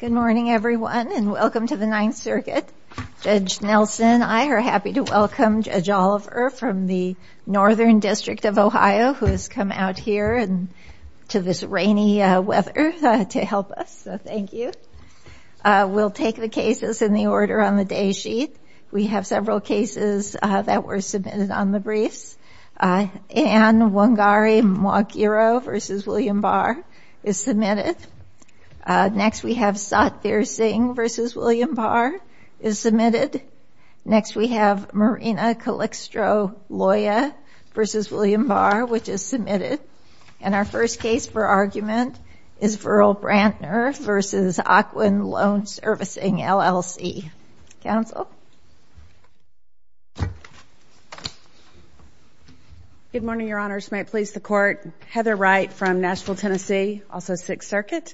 Good morning everyone and welcome to the Ninth Circuit. Judge Nelson and I are happy to welcome Judge Oliver from the Northern District of Ohio who has come out here to this rainy weather to help us, so thank you. We'll take the cases in the order on the day sheet. We have several cases that were submitted on the briefs. Ann Wongari-Mwakiro v. William Barr is submitted. Next we have Satvir Singh v. William Barr is submitted. Next we have Marina Calixtro-Loya v. William Barr, which is submitted. And our first case for argument is Verl Brantner v. Ocwen Loan Servicing LLC. Counsel? Good morning, Your Honors. May it please the Court. Heather Wright from Nashville, Tennessee, also Sixth Circuit,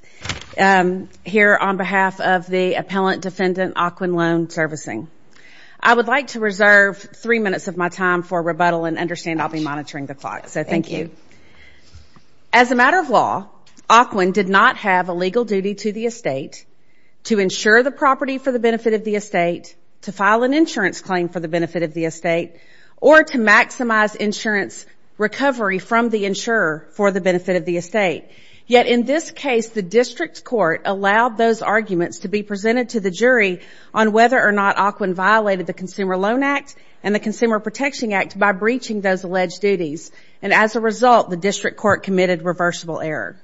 here on behalf of the Appellant Defendant, Ocwen Loan Servicing. I would like to reserve three minutes of my time for rebuttal and understand I'll be monitoring the clock, so thank you. As a matter of law, Ocwen did not have a legal duty to the estate to insure the property for the benefit of the estate, to file an insurance claim for the benefit of the estate, or to maximize insurance recovery from the insurer for the benefit of the estate. Yet in this case, the district court allowed those arguments to be presented to the jury on whether or not Ocwen violated the Consumer Loan Act and the Consumer Protection Act by breaching those alleged duties. And as a result, the district court committed reversible error.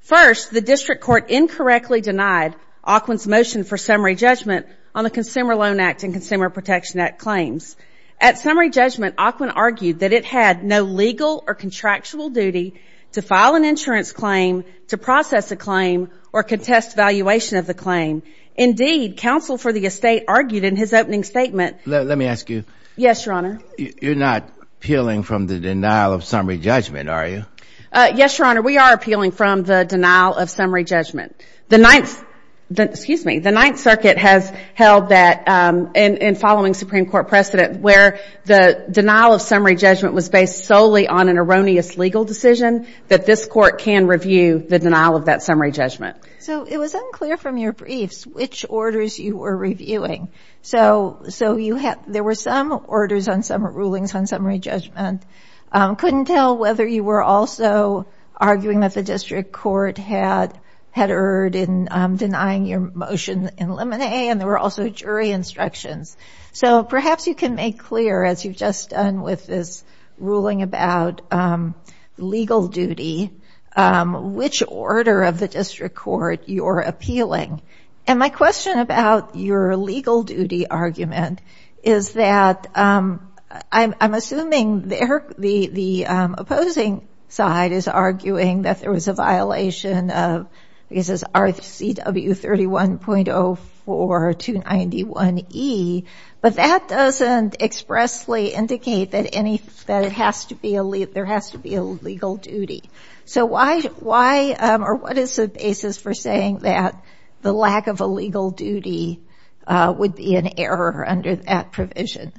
First, the district court incorrectly denied Ocwen's motion for summary judgment on the Consumer Loan Act and Consumer Protection Act claims. At summary judgment, Ocwen argued that it had no legal or contractual duty to file an insurance claim, to process a claim, or contest valuation of the claim. Indeed, counsel for the estate argued in his opening statement Let me ask you. Yes, Your Honor. You're not appealing from the denial of summary judgment, are you? Yes, Your Honor, we are appealing from the denial of summary judgment. The Ninth Circuit has held that in following Supreme Court precedent where the denial of summary judgment was based solely on an erroneous legal decision that this court can review the denial of that summary judgment. So it was unclear from your briefs which orders you were reviewing. So there were some orders on some rulings on summary judgment. Couldn't tell whether you were also arguing that the district court had erred in denying your motion in limine and there were also jury instructions. So perhaps you can make clear, as you've just done with this ruling about legal duty, which order of the district court you're appealing. And my question about your legal duty argument is that I'm assuming the opposing side is arguing that there was a violation of RCW 31.04291E, but that doesn't expressly indicate that there has to be a legal duty. So why or what is the basis for saying that the lack of a legal duty would be an error under that provision?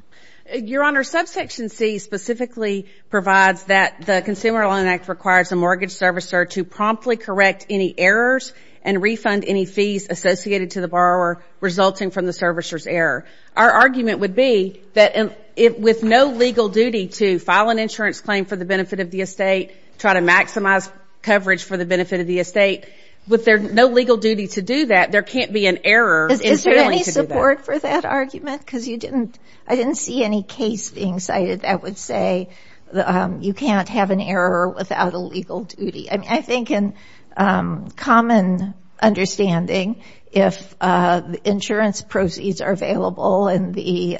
Your Honor, Subsection C specifically provides that the Consumer Loan Act requires a mortgage servicer to promptly correct any errors and refund any fees associated to the borrower resulting from the servicer's error. Our argument would be that with no legal duty to file an insurance claim for the benefit of the estate, try to maximize coverage for the benefit of the estate, with no legal duty to do that, there can't be an error in failing to do that. Is there any support for that argument? Because I didn't see any case being cited that would say you can't have an error without a legal duty. I think in common understanding, if the insurance proceeds are available and the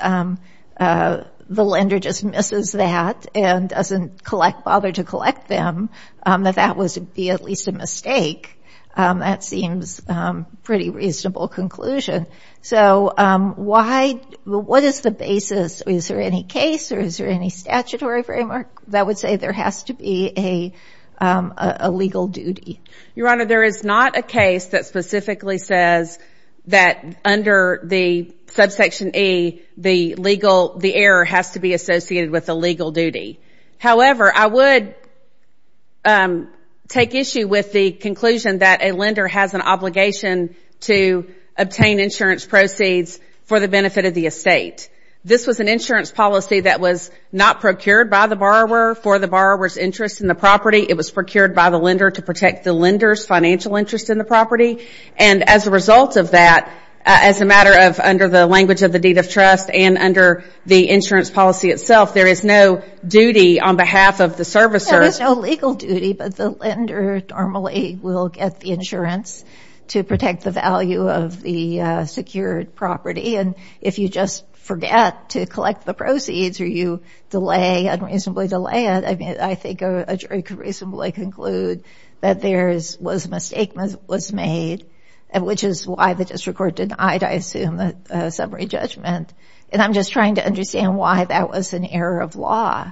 lender just misses that and doesn't bother to collect them, that that would be at least a mistake. That seems a pretty reasonable conclusion. So what is the basis? Is there any case or is there any statutory framework that would say there has to be a legal duty? Your Honor, there is not a case that specifically says that under the Subsection E, the error has to be associated with a legal duty. However, I would take issue with the conclusion that a lender has an obligation to obtain insurance proceeds for the benefit of the estate. This was an insurance policy that was not procured by the borrower for the borrower's interest in the property. It was procured by the lender to protect the lender's financial interest in the property. And as a result of that, as a matter of under the language of the deed of trust and under the insurance policy itself, there is no duty on behalf of the servicer. There is no legal duty, but the lender normally will get the insurance to protect the value of the secured property. And if you just forget to collect the proceeds or you delay, unreasonably delay it, I think a jury could reasonably conclude that there was a mistake that was made, which is why the district court denied, I assume, a summary judgment. And I'm just trying to understand why that was an error of law.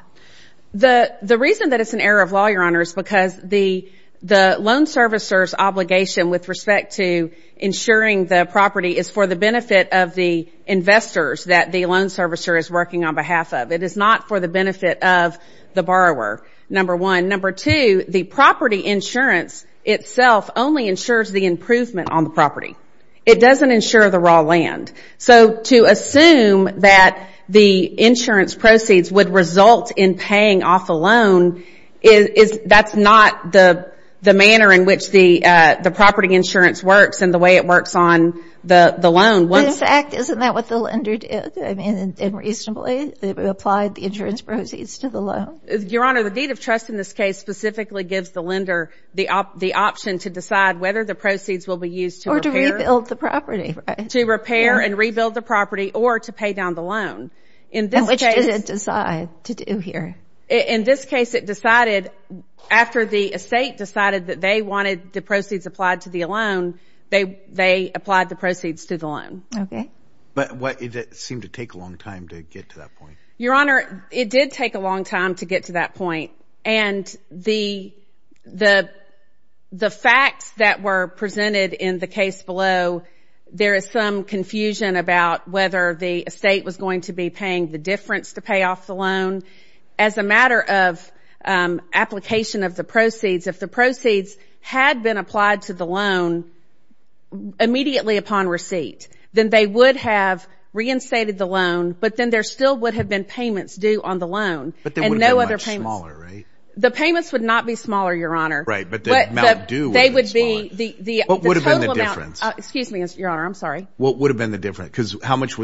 The reason that it's an error of law, Your Honor, is because the loan servicer's obligation with respect to insuring the property is for the benefit of the investors that the loan servicer is working on behalf of. It is not for the benefit of the borrower, number one. Number two, the property insurance itself only insures the improvement on the property. It doesn't insure the raw land. So to assume that the insurance proceeds would result in paying off the loan, that's not the manner in which the property insurance works and the way it works on the loan. In fact, isn't that what the lender did? I mean, unreasonably, they applied the insurance proceeds to the loan? Your Honor, the deed of trust in this case specifically gives the lender the option to decide whether the proceeds will be used to repair. Or to rebuild the property, right? To repair and rebuild the property or to pay down the loan. And which does it decide to do here? In this case, it decided after the estate decided that they wanted the proceeds applied to the loan, they applied the proceeds to the loan. Okay. But it seemed to take a long time to get to that point. Your Honor, it did take a long time to get to that point. And the facts that were presented in the case below, there is some confusion about whether the estate was going to be paying the difference to pay off the loan. As a matter of application of the proceeds, if the proceeds had been applied to the loan immediately upon receipt, then they would have reinstated the loan, but then there still would have been payments due on the loan. But they would have been much smaller, right? The payments would not be smaller, Your Honor. Right, but the amount due would be smaller. What would have been the difference? Excuse me, Your Honor, I'm sorry. What would have been the difference? Because how much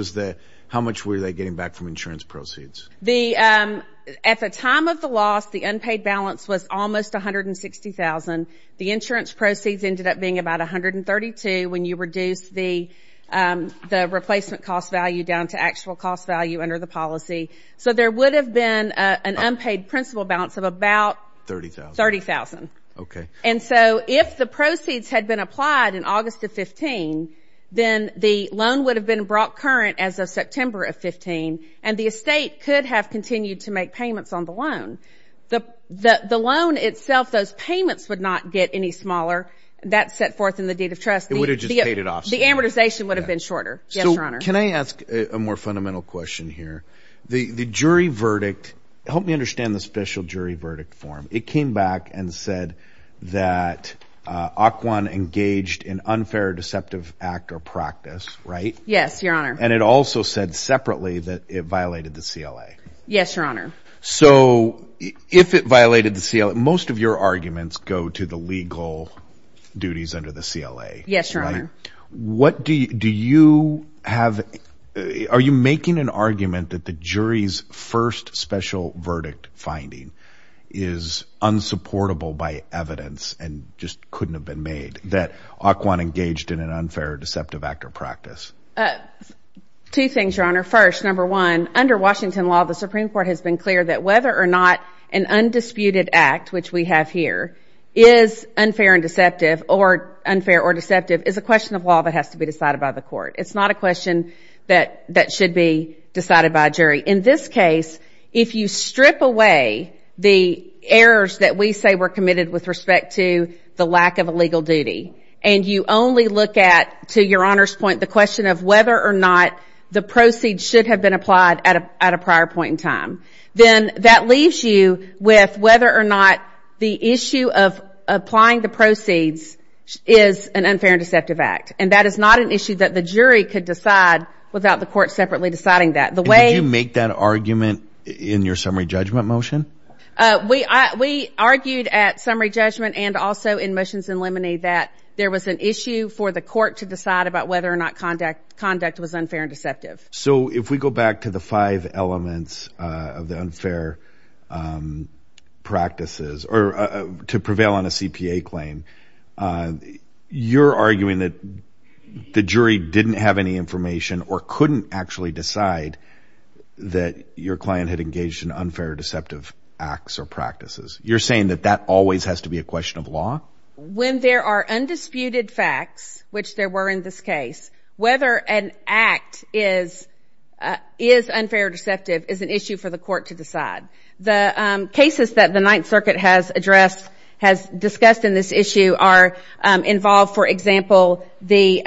were they getting back from insurance proceeds? At the time of the loss, the unpaid balance was almost $160,000. The insurance proceeds ended up being about $132,000 when you reduced the replacement cost value down to actual cost value under the policy. So there would have been an unpaid principal balance of about $30,000. Okay. And so if the proceeds had been applied in August of 15, then the loan would have been brought current as of September of 15, and the estate could have continued to make payments on the loan. The loan itself, those payments would not get any smaller. That's set forth in the deed of trust. It would have just paid it off. The amortization would have been shorter. Yes, Your Honor. So can I ask a more fundamental question here? The jury verdict, help me understand the special jury verdict form. It came back and said that Occoquan engaged in unfair, deceptive act or practice, right? Yes, Your Honor. And it also said separately that it violated the CLA. Yes, Your Honor. So if it violated the CLA, most of your arguments go to the legal duties under the CLA, right? Yes, Your Honor. Are you making an argument that the jury's first special verdict finding is unsupportable by evidence and just couldn't have been made, that Occoquan engaged in an unfair, deceptive act or practice? Two things, Your Honor. First, number one, under Washington law, the Supreme Court has been clear that whether or not an undisputed act, which we have here, is unfair or deceptive is a question of law that has to be decided by the court. It's not a question that should be decided by a jury. In this case, if you strip away the errors that we say were committed with respect to the lack of a legal duty and you only look at, to Your Honor's point, the question of whether or not the proceeds should have been applied at a prior point in time, then that leaves you with whether or not the issue of applying the proceeds is an unfair, deceptive act. And that is not an issue that the jury could decide without the court separately deciding that. Did you make that argument in your summary judgment motion? We argued at summary judgment and also in motions in limine that there was an issue for the court to decide about whether or not conduct was unfair and deceptive. So if we go back to the five elements of the unfair practices or to prevail on a CPA claim, you're arguing that the jury didn't have any information or couldn't actually decide that your client had engaged in unfair or deceptive acts or practices. You're saying that that always has to be a question of law? When there are undisputed facts, which there were in this case, whether an act is unfair or deceptive is an issue for the court to decide. The cases that the Ninth Circuit has addressed, has discussed in this issue, are involved, for example, the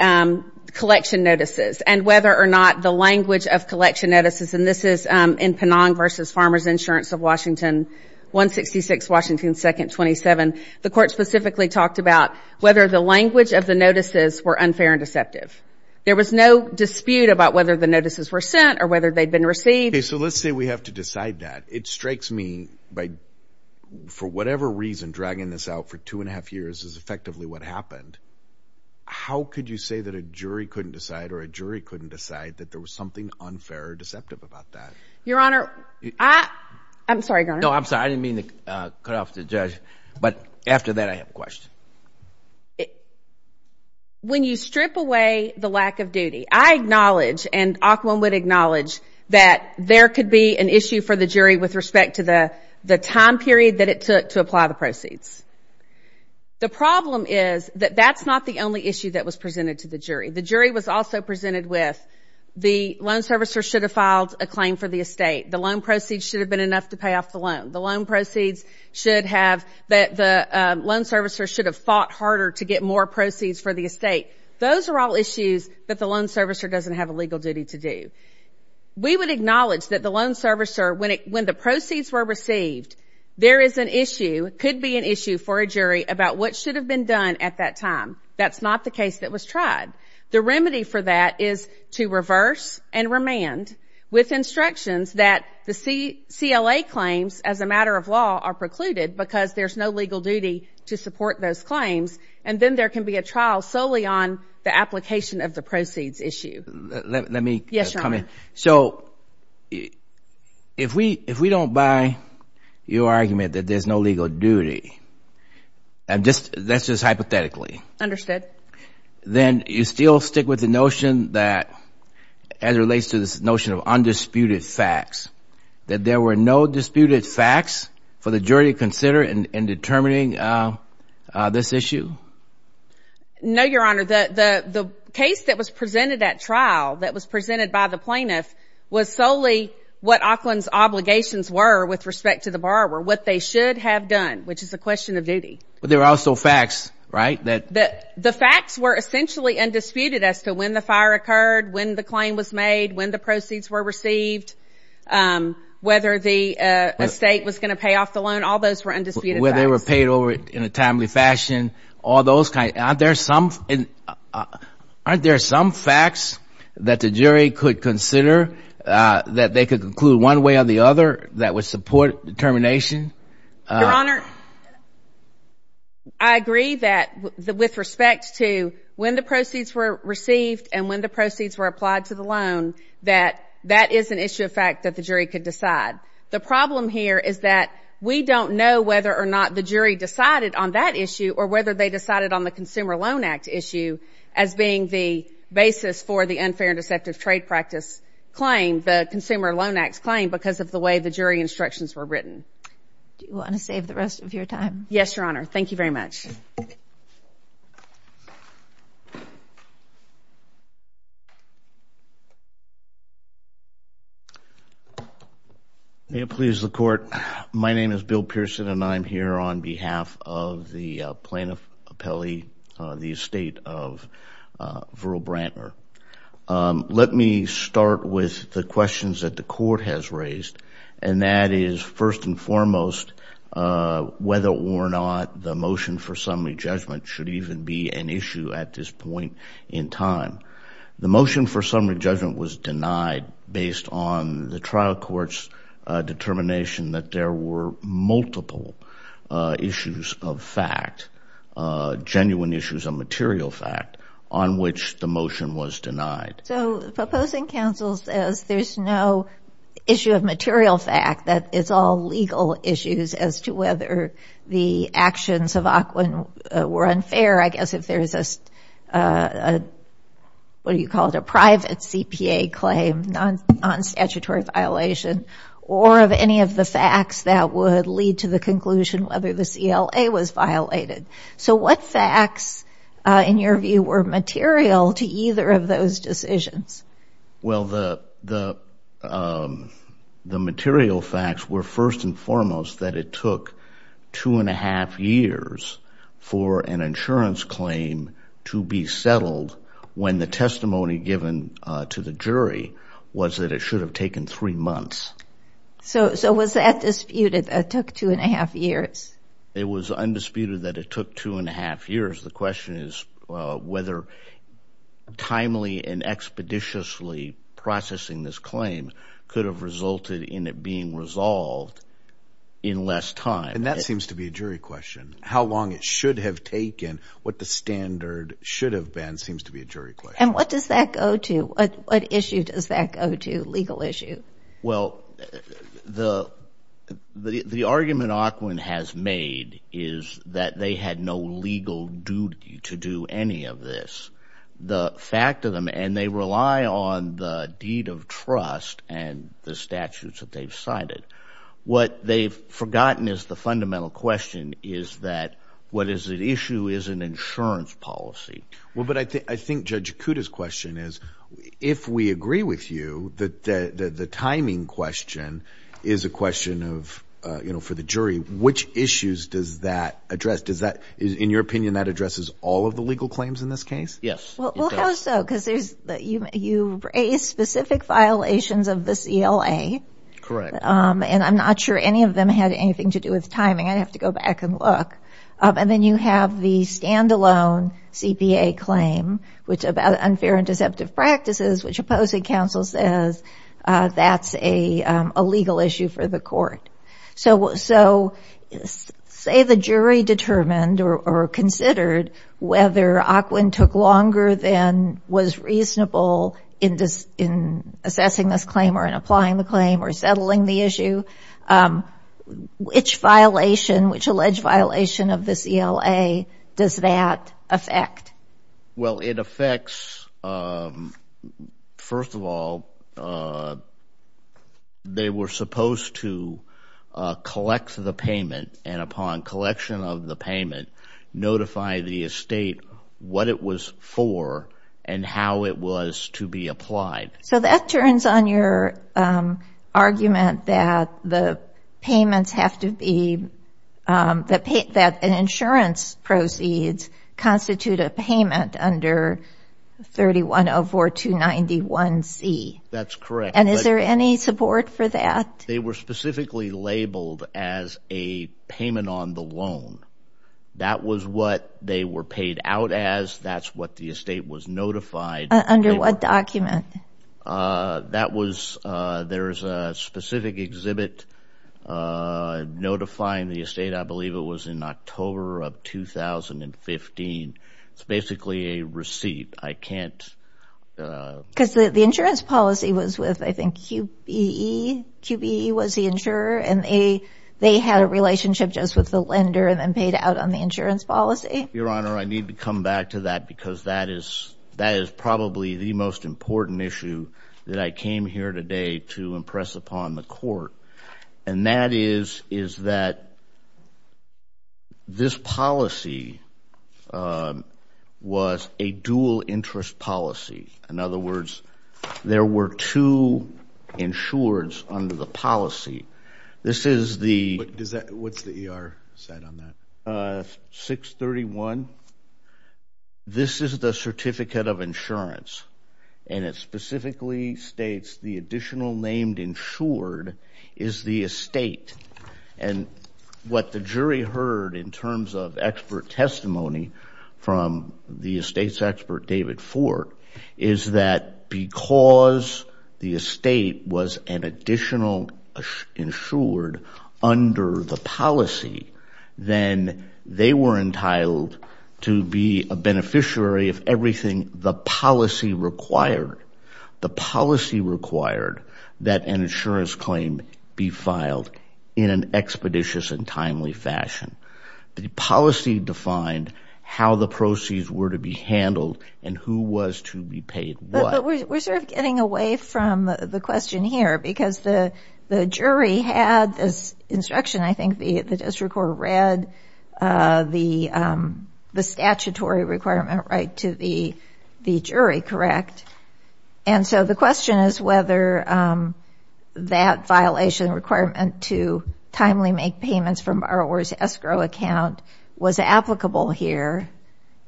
collection notices and whether or not the language of collection notices, and this is in Penong v. Farmers Insurance of Washington, 166 Washington 2nd, 27. The court specifically talked about whether the language of the notices were unfair and deceptive. There was no dispute about whether the notices were sent or whether they'd been received. So let's say we have to decide that. It strikes me by, for whatever reason, dragging this out for two and a half years is effectively what happened. How could you say that a jury couldn't decide or a jury couldn't decide that there was something unfair or deceptive about that? Your Honor, I'm sorry, Your Honor. No, I'm sorry. I didn't mean to cut off the judge, but after that, I have a question. When you strip away the lack of duty, I acknowledge and Aquamon would acknowledge that there could be an issue for the jury with respect to the time period that it took to apply the proceeds. The problem is that that's not the only issue that was presented to the jury. The jury was also presented with the loan servicer should have filed a claim for the estate. The loan proceeds should have been enough to pay off the loan. The loan proceeds should have, the loan servicer should have fought harder to get more proceeds for the estate. Those are all issues that the loan servicer doesn't have a legal duty to do. We would acknowledge that the loan servicer, when the proceeds were received, there is an issue, could be an issue for a jury about what should have been done at that time. That's not the case that was tried. The remedy for that is to reverse and remand with instructions that the CLA claims as a matter of law are precluded because there's no legal duty to support those claims, and then there can be a trial solely on the application of the proceeds issue. Let me comment. Yes, Your Honor. So if we don't buy your argument that there's no legal duty, that's just hypothetically. Understood. Then you still stick with the notion that as it relates to this notion of undisputed facts, that there were no disputed facts for the jury to consider in determining this issue? No, Your Honor. The case that was presented at trial, that was presented by the plaintiff, was solely what Auckland's obligations were with respect to the borrower, what they should have done, which is a question of duty. But there are also facts, right? The facts were essentially undisputed as to when the fire occurred, when the claim was made, when the proceeds were received, whether the estate was going to pay off the loan. All those were undisputed facts. Whether they were paid over in a timely fashion, all those kinds. Aren't there some facts that the jury could consider that they could conclude one way or the other that would support determination? Your Honor, I agree that with respect to when the proceeds were received and when the proceeds were applied to the loan, that that is an issue of fact that the jury could decide. The problem here is that we don't know whether or not the jury decided on that issue or whether they decided on the Consumer Loan Act issue as being the basis for the unfair and deceptive trade practice claim, the Consumer Loan Act claim, because of the way the jury instructions were written. Do you want to save the rest of your time? Yes, Your Honor. Thank you very much. May it please the Court. My name is Bill Pearson, and I'm here on behalf of the plaintiff appellee, the estate of Verrill Brantner. Let me start with the questions that the Court has raised, and that is, first and foremost, whether or not the motion for summary judgment should even be an issue at this point in time. The motion for summary judgment was denied based on the trial court's determination that there were multiple issues of fact, genuine issues of material fact, on which the motion was denied. So the proposing counsel says there's no issue of material fact. That it's all legal issues as to whether the actions of AQUIN were unfair. I guess if there's a, what do you call it, a private CPA claim, non-statutory violation, or of any of the facts that would lead to the conclusion whether the CLA was violated. So what facts, in your view, were material to either of those decisions? Well, the material facts were, first and foremost, that it took two and a half years for an insurance claim to be settled when the testimony given to the jury was that it should have taken three months. So was that disputed, that it took two and a half years? It was undisputed that it took two and a half years. The question is whether timely and expeditiously processing this claim could have resulted in it being resolved in less time. And that seems to be a jury question. How long it should have taken, what the standard should have been seems to be a jury question. And what does that go to? What issue does that go to, legal issue? Well, the argument Aquin has made is that they had no legal duty to do any of this. The fact of them, and they rely on the deed of trust and the statutes that they've cited, what they've forgotten is the fundamental question is that what is at issue is an insurance policy. Well, but I think Judge Kuda's question is, if we agree with you that the timing question is a question for the jury, which issues does that address? In your opinion, that addresses all of the legal claims in this case? Yes. Well, how so? Because you raise specific violations of the CLA. Correct. And I'm not sure any of them had anything to do with timing. I'd have to go back and look. And then you have the standalone CPA claim, which unfair and deceptive practices, which opposing counsel says that's a legal issue for the court. So say the jury determined or considered whether Aquin took longer than was reasonable in assessing this claim or in applying the claim or settling the issue, which violation, which alleged violation of the CLA does that affect? Well, it affects, first of all, they were supposed to collect the payment, and upon collection of the payment notify the estate what it was for and how it was to be applied. So that turns on your argument that the payments have to be, that insurance proceeds constitute a payment under 3104291C. That's correct. And is there any support for that? They were specifically labeled as a payment on the loan. That was what they were paid out as. That's what the estate was notified. Under what document? That was, there is a specific exhibit notifying the estate, I believe it was in October of 2015. It's basically a receipt. I can't. Because the insurance policy was with, I think, QBE, QBE was the insurer, and they had a relationship just with the lender and then paid out on the insurance policy. Your Honor, I need to come back to that because that is probably the most important issue that I came here today to impress upon the court, and that is that this policy was a dual interest policy. In other words, there were two insurers under the policy. This is the – What's the ER set on that? 631. This is the certificate of insurance, and it specifically states the additional named insured is the estate. And what the jury heard in terms of expert testimony from the estate's expert, David Ford, is that because the estate was an additional insured under the policy, then they were entitled to be a beneficiary of everything the policy required. The policy required that an insurance claim be filed in an expeditious and timely fashion. The policy defined how the proceeds were to be handled and who was to be paid what. But we're sort of getting away from the question here because the jury had this instruction. I think the district court read the statutory requirement right to the jury, correct? And so the question is whether that violation requirement to timely make payments from borrower's escrow account was applicable here.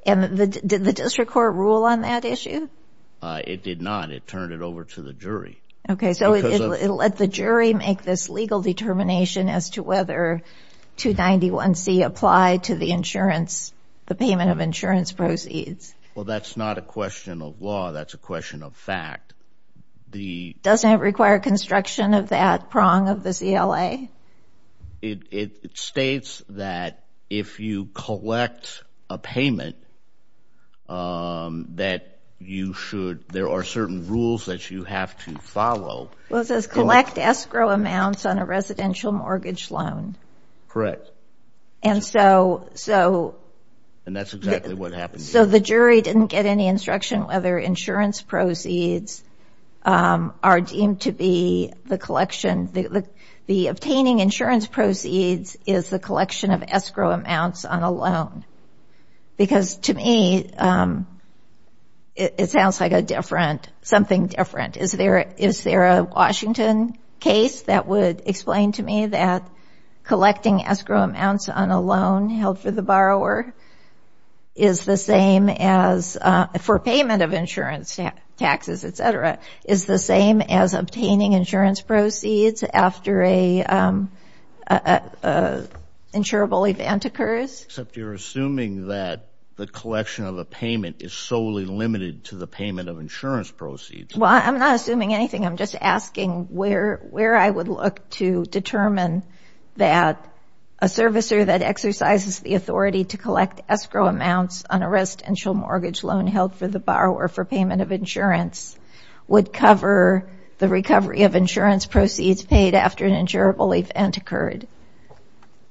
And did the district court rule on that issue? It did not. It turned it over to the jury. Okay, so it let the jury make this legal determination as to whether 291C applied to the insurance, the payment of insurance proceeds. Well, that's not a question of law. That's a question of fact. Doesn't it require construction of that prong of the CLA? It states that if you collect a payment that you should, there are certain rules that you have to follow. Well, it says collect escrow amounts on a residential mortgage loan. Correct. And so the jury didn't get any instruction whether insurance proceeds are deemed to be the collection. The obtaining insurance proceeds is the collection of escrow amounts on a loan. Because to me, it sounds like something different. Is there a Washington case that would explain to me that collecting escrow amounts on a loan held for the borrower is the same as for payment of insurance taxes, et cetera, is the same as obtaining insurance proceeds after an insurable event occurs? Except you're assuming that the collection of a payment is solely limited to the payment of insurance proceeds. Well, I'm not assuming anything. I'm just asking where I would look to determine that a servicer that exercises the authority to collect escrow amounts on a residential mortgage loan held for the borrower for payment of insurance would cover the recovery of insurance proceeds paid after an insurable event occurred.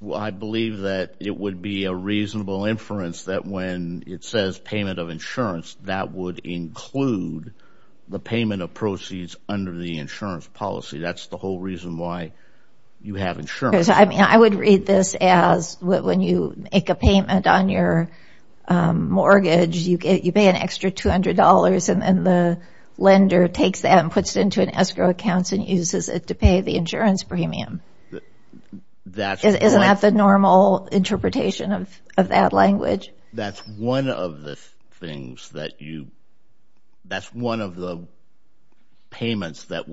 Well, I believe that it would be a reasonable inference that when it says payment of insurance, that would include the payment of proceeds under the insurance policy. That's the whole reason why you have insurance. I mean, I would read this as when you make a payment on your mortgage, you pay an extra $200 and then the lender takes that and puts it into an escrow account and uses it to pay the insurance premium. Isn't that the normal interpretation of that language? That's one of the payments that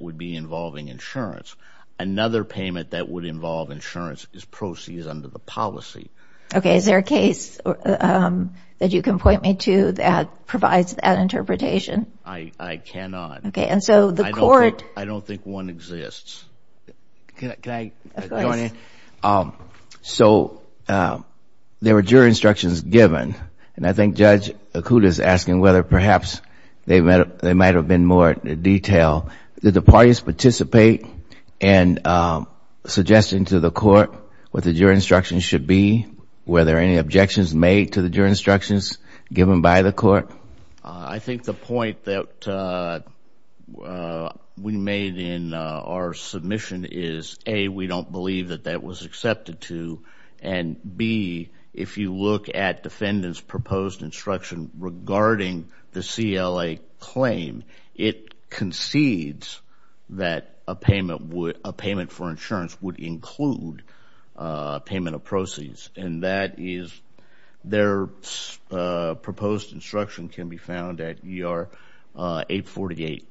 would be involving insurance. Another payment that would involve insurance is proceeds under the policy. Okay, is there a case that you can point me to that provides that interpretation? I cannot. Okay, and so the court— I don't think one exists. Can I go on? Of course. So there were jury instructions given, and I think Judge Acuda is asking whether perhaps there might have been more detail. Did the parties participate in suggesting to the court what the jury instructions should be? Were there any objections made to the jury instructions given by the court? I think the point that we made in our submission is, A, we don't believe that that was accepted to, and B, if you look at defendant's proposed instruction regarding the CLA claim, it concedes that a payment for insurance would include payment of proceeds, and that is their proposed instruction can be found at ER 848.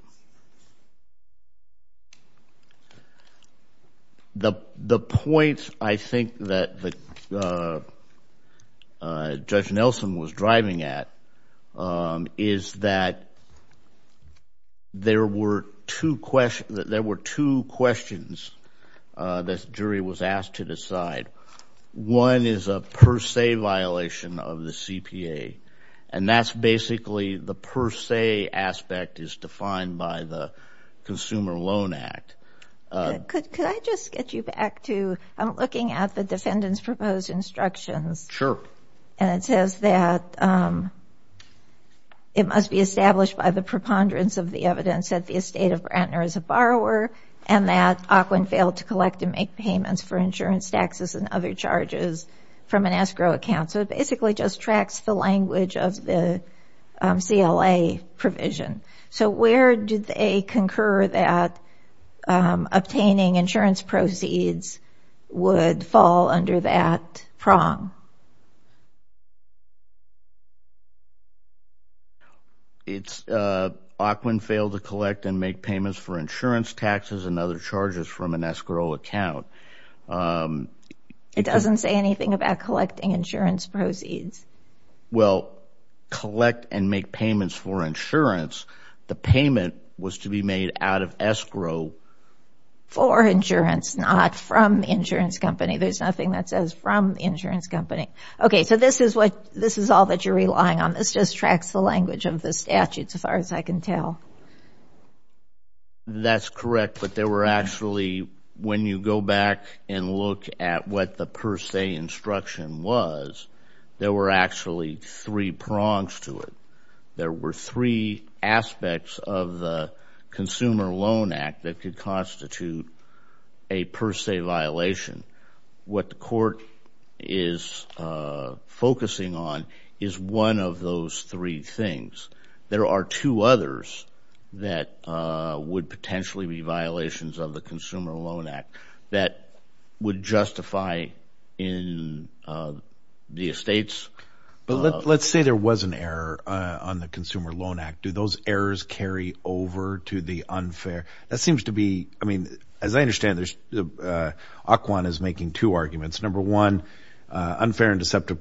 The point I think that Judge Nelson was driving at is that there were two questions that the jury was asked to decide. One is a per se violation of the CPA, and that's basically the per se aspect is defined by the Consumer Loan Act. Could I just get you back to looking at the defendant's proposed instructions? Sure. And it says that it must be established by the preponderance of the evidence that the estate of Brantner is a borrower and that Auquin failed to collect and make payments for insurance taxes and other charges from an escrow account. So it basically just tracks the language of the CLA provision. So where do they concur that obtaining insurance proceeds would fall under that prong? No. It's Auquin failed to collect and make payments for insurance taxes and other charges from an escrow account. It doesn't say anything about collecting insurance proceeds. Well, collect and make payments for insurance. The payment was to be made out of escrow. For insurance, not from the insurance company. There's nothing that says from the insurance company. Okay, so this is all that you're relying on. This just tracks the language of the statute as far as I can tell. That's correct, but there were actually, when you go back and look at what the per se instruction was, there were actually three prongs to it. There were three aspects of the Consumer Loan Act that could constitute a per se violation. What the court is focusing on is one of those three things. There are two others that would potentially be violations of the Consumer Loan Act that would justify in the estates. Let's say there was an error on the Consumer Loan Act. Do those errors carry over to the unfair? That seems to be, I mean, as I understand, Auquin is making two arguments. Number one, unfair and deceptive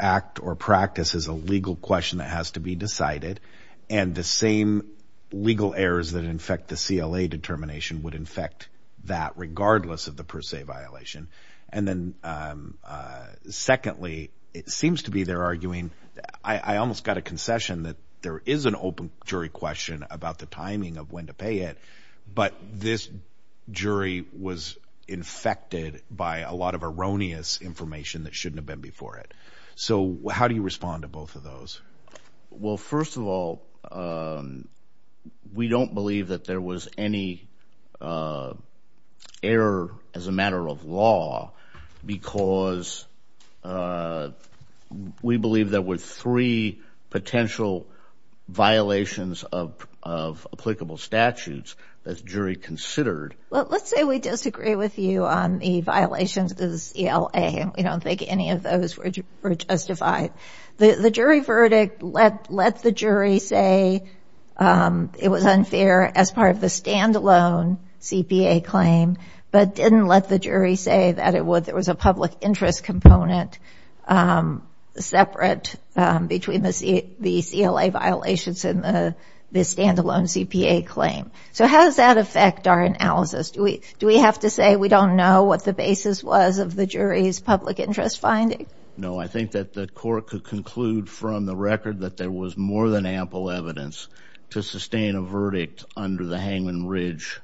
act or practice is a legal question that has to be decided, and the same legal errors that infect the CLA determination would infect that, regardless of the per se violation. And then secondly, it seems to be they're arguing, I almost got a concession that there is an open jury question about the timing of when to pay it, but this jury was infected by a lot of erroneous information that shouldn't have been before it. So how do you respond to both of those? Well, first of all, we don't believe that there was any error as a matter of law because we believe there were three potential violations of applicable statutes that the jury considered. Let's say we disagree with you on the violations of the CLA, and we don't think any of those were justified. The jury verdict let the jury say it was unfair as part of the stand-alone CPA claim, but didn't let the jury say that it was a public interest component separate between the CLA violations and the stand-alone CPA claim. So how does that affect our analysis? Do we have to say we don't know what the basis was of the jury's public interest finding? No, I think that the court could conclude from the record that there was more than ample evidence to sustain a verdict under the Hangman Ridge,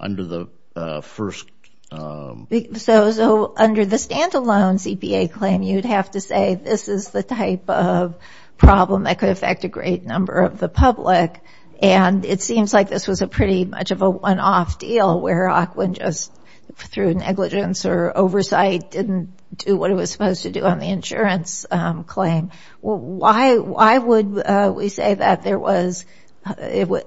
under the first... So under the stand-alone CPA claim, you'd have to say this is the type of problem that could affect a great number of the public, and it seems like this was a pretty much of a one-off deal where Ockwin just, through negligence or oversight, didn't do what it was supposed to do on the insurance claim. Why would we say that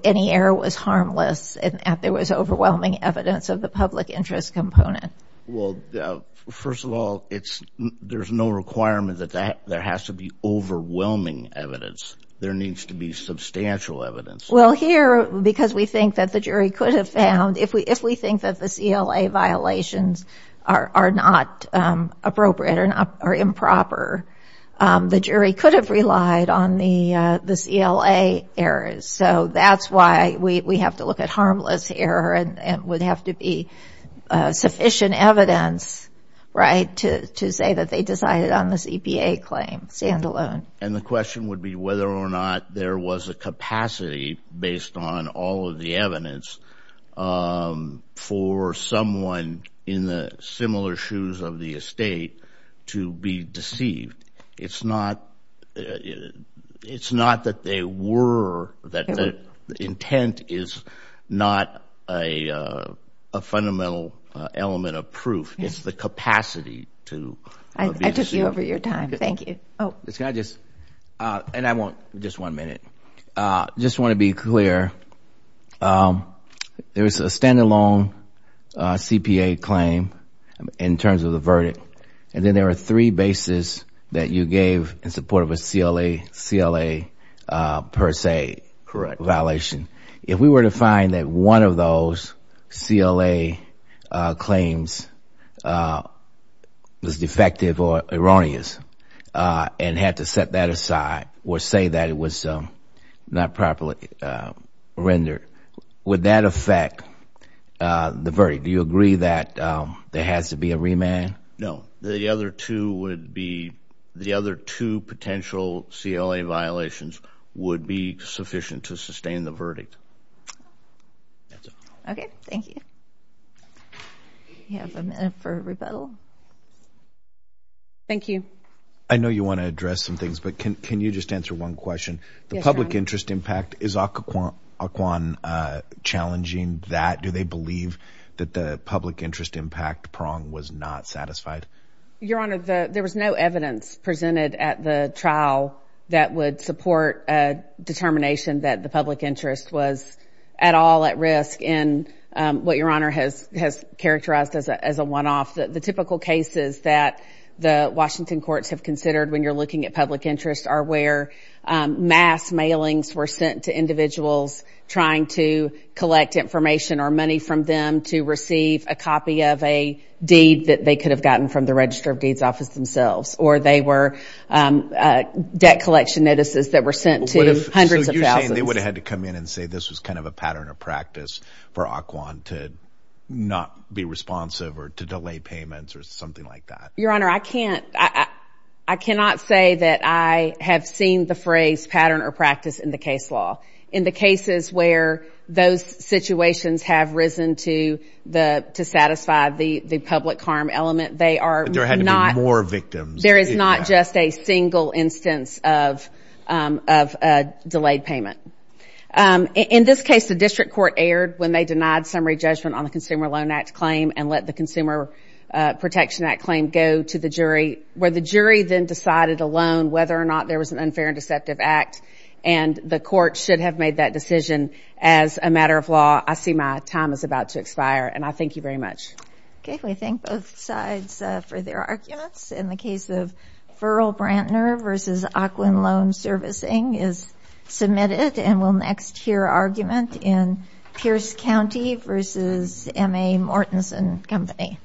any error was harmless and that there was overwhelming evidence of the public interest component? Well, first of all, there's no requirement that there has to be overwhelming evidence. There needs to be substantial evidence. Well, here, because we think that the jury could have found, if we think that the CLA violations are not appropriate or improper, the jury could have relied on the CLA errors. So that's why we have to look at harmless error and would have to be sufficient evidence, right, to say that they decided on the CPA claim stand-alone. And the question would be whether or not there was a capacity, based on all of the evidence, for someone in the similar shoes of the estate to be deceived. It's not that they were, that the intent is not a fundamental element of proof. It's the capacity to be deceived. I took you over your time. Thank you. Can I just, and I want just one minute, just want to be clear. There is a stand-alone CPA claim in terms of the verdict, and then there are three bases that you gave in support of a CLA per se violation. If we were to find that one of those CLA claims was defective or erroneous and had to set that aside or say that it was not properly rendered, would that affect the verdict? Do you agree that there has to be a remand? No. The other two would be, the other two potential CLA violations would be sufficient to sustain the verdict. Okay. Thank you. We have a minute for rebuttal. Thank you. I know you want to address some things, but can you just answer one question? Yes, John. The public interest impact, is Occoquan challenging that? Do they believe that the public interest impact prong was not satisfied? Your Honor, there was no evidence presented at the trial that would support a determination that the public interest was at all at risk in what Your Honor has characterized as a one-off. The typical cases that the Washington courts have considered when you're looking at public interest are where mass mailings were sent to individuals trying to collect information or money from them to receive a copy of a deed that they could have gotten from the Register of Deeds Office themselves, or they were debt collection notices that were sent to hundreds of thousands. So you're saying they would have had to come in and say this was kind of a pattern or practice for Occoquan to not be responsive or to delay payments or something like that? Your Honor, I cannot say that I have seen the phrase pattern or practice in the case law. In the cases where those situations have risen to satisfy the public harm element, there is not just a single instance of delayed payment. In this case, the district court erred when they denied summary judgment on the Consumer Loan Act claim and let the Consumer Protection Act claim go to the jury, where the jury then decided alone whether or not there was an unfair and deceptive act and the court should have made that decision as a matter of law. I see my time is about to expire, and I thank you very much. Okay, we thank both sides for their arguments. In the case of Furl Brantner v. Occoquan Loan Servicing is submitted and we'll next hear argument in Pierce County v. M.A. Mortenson Company.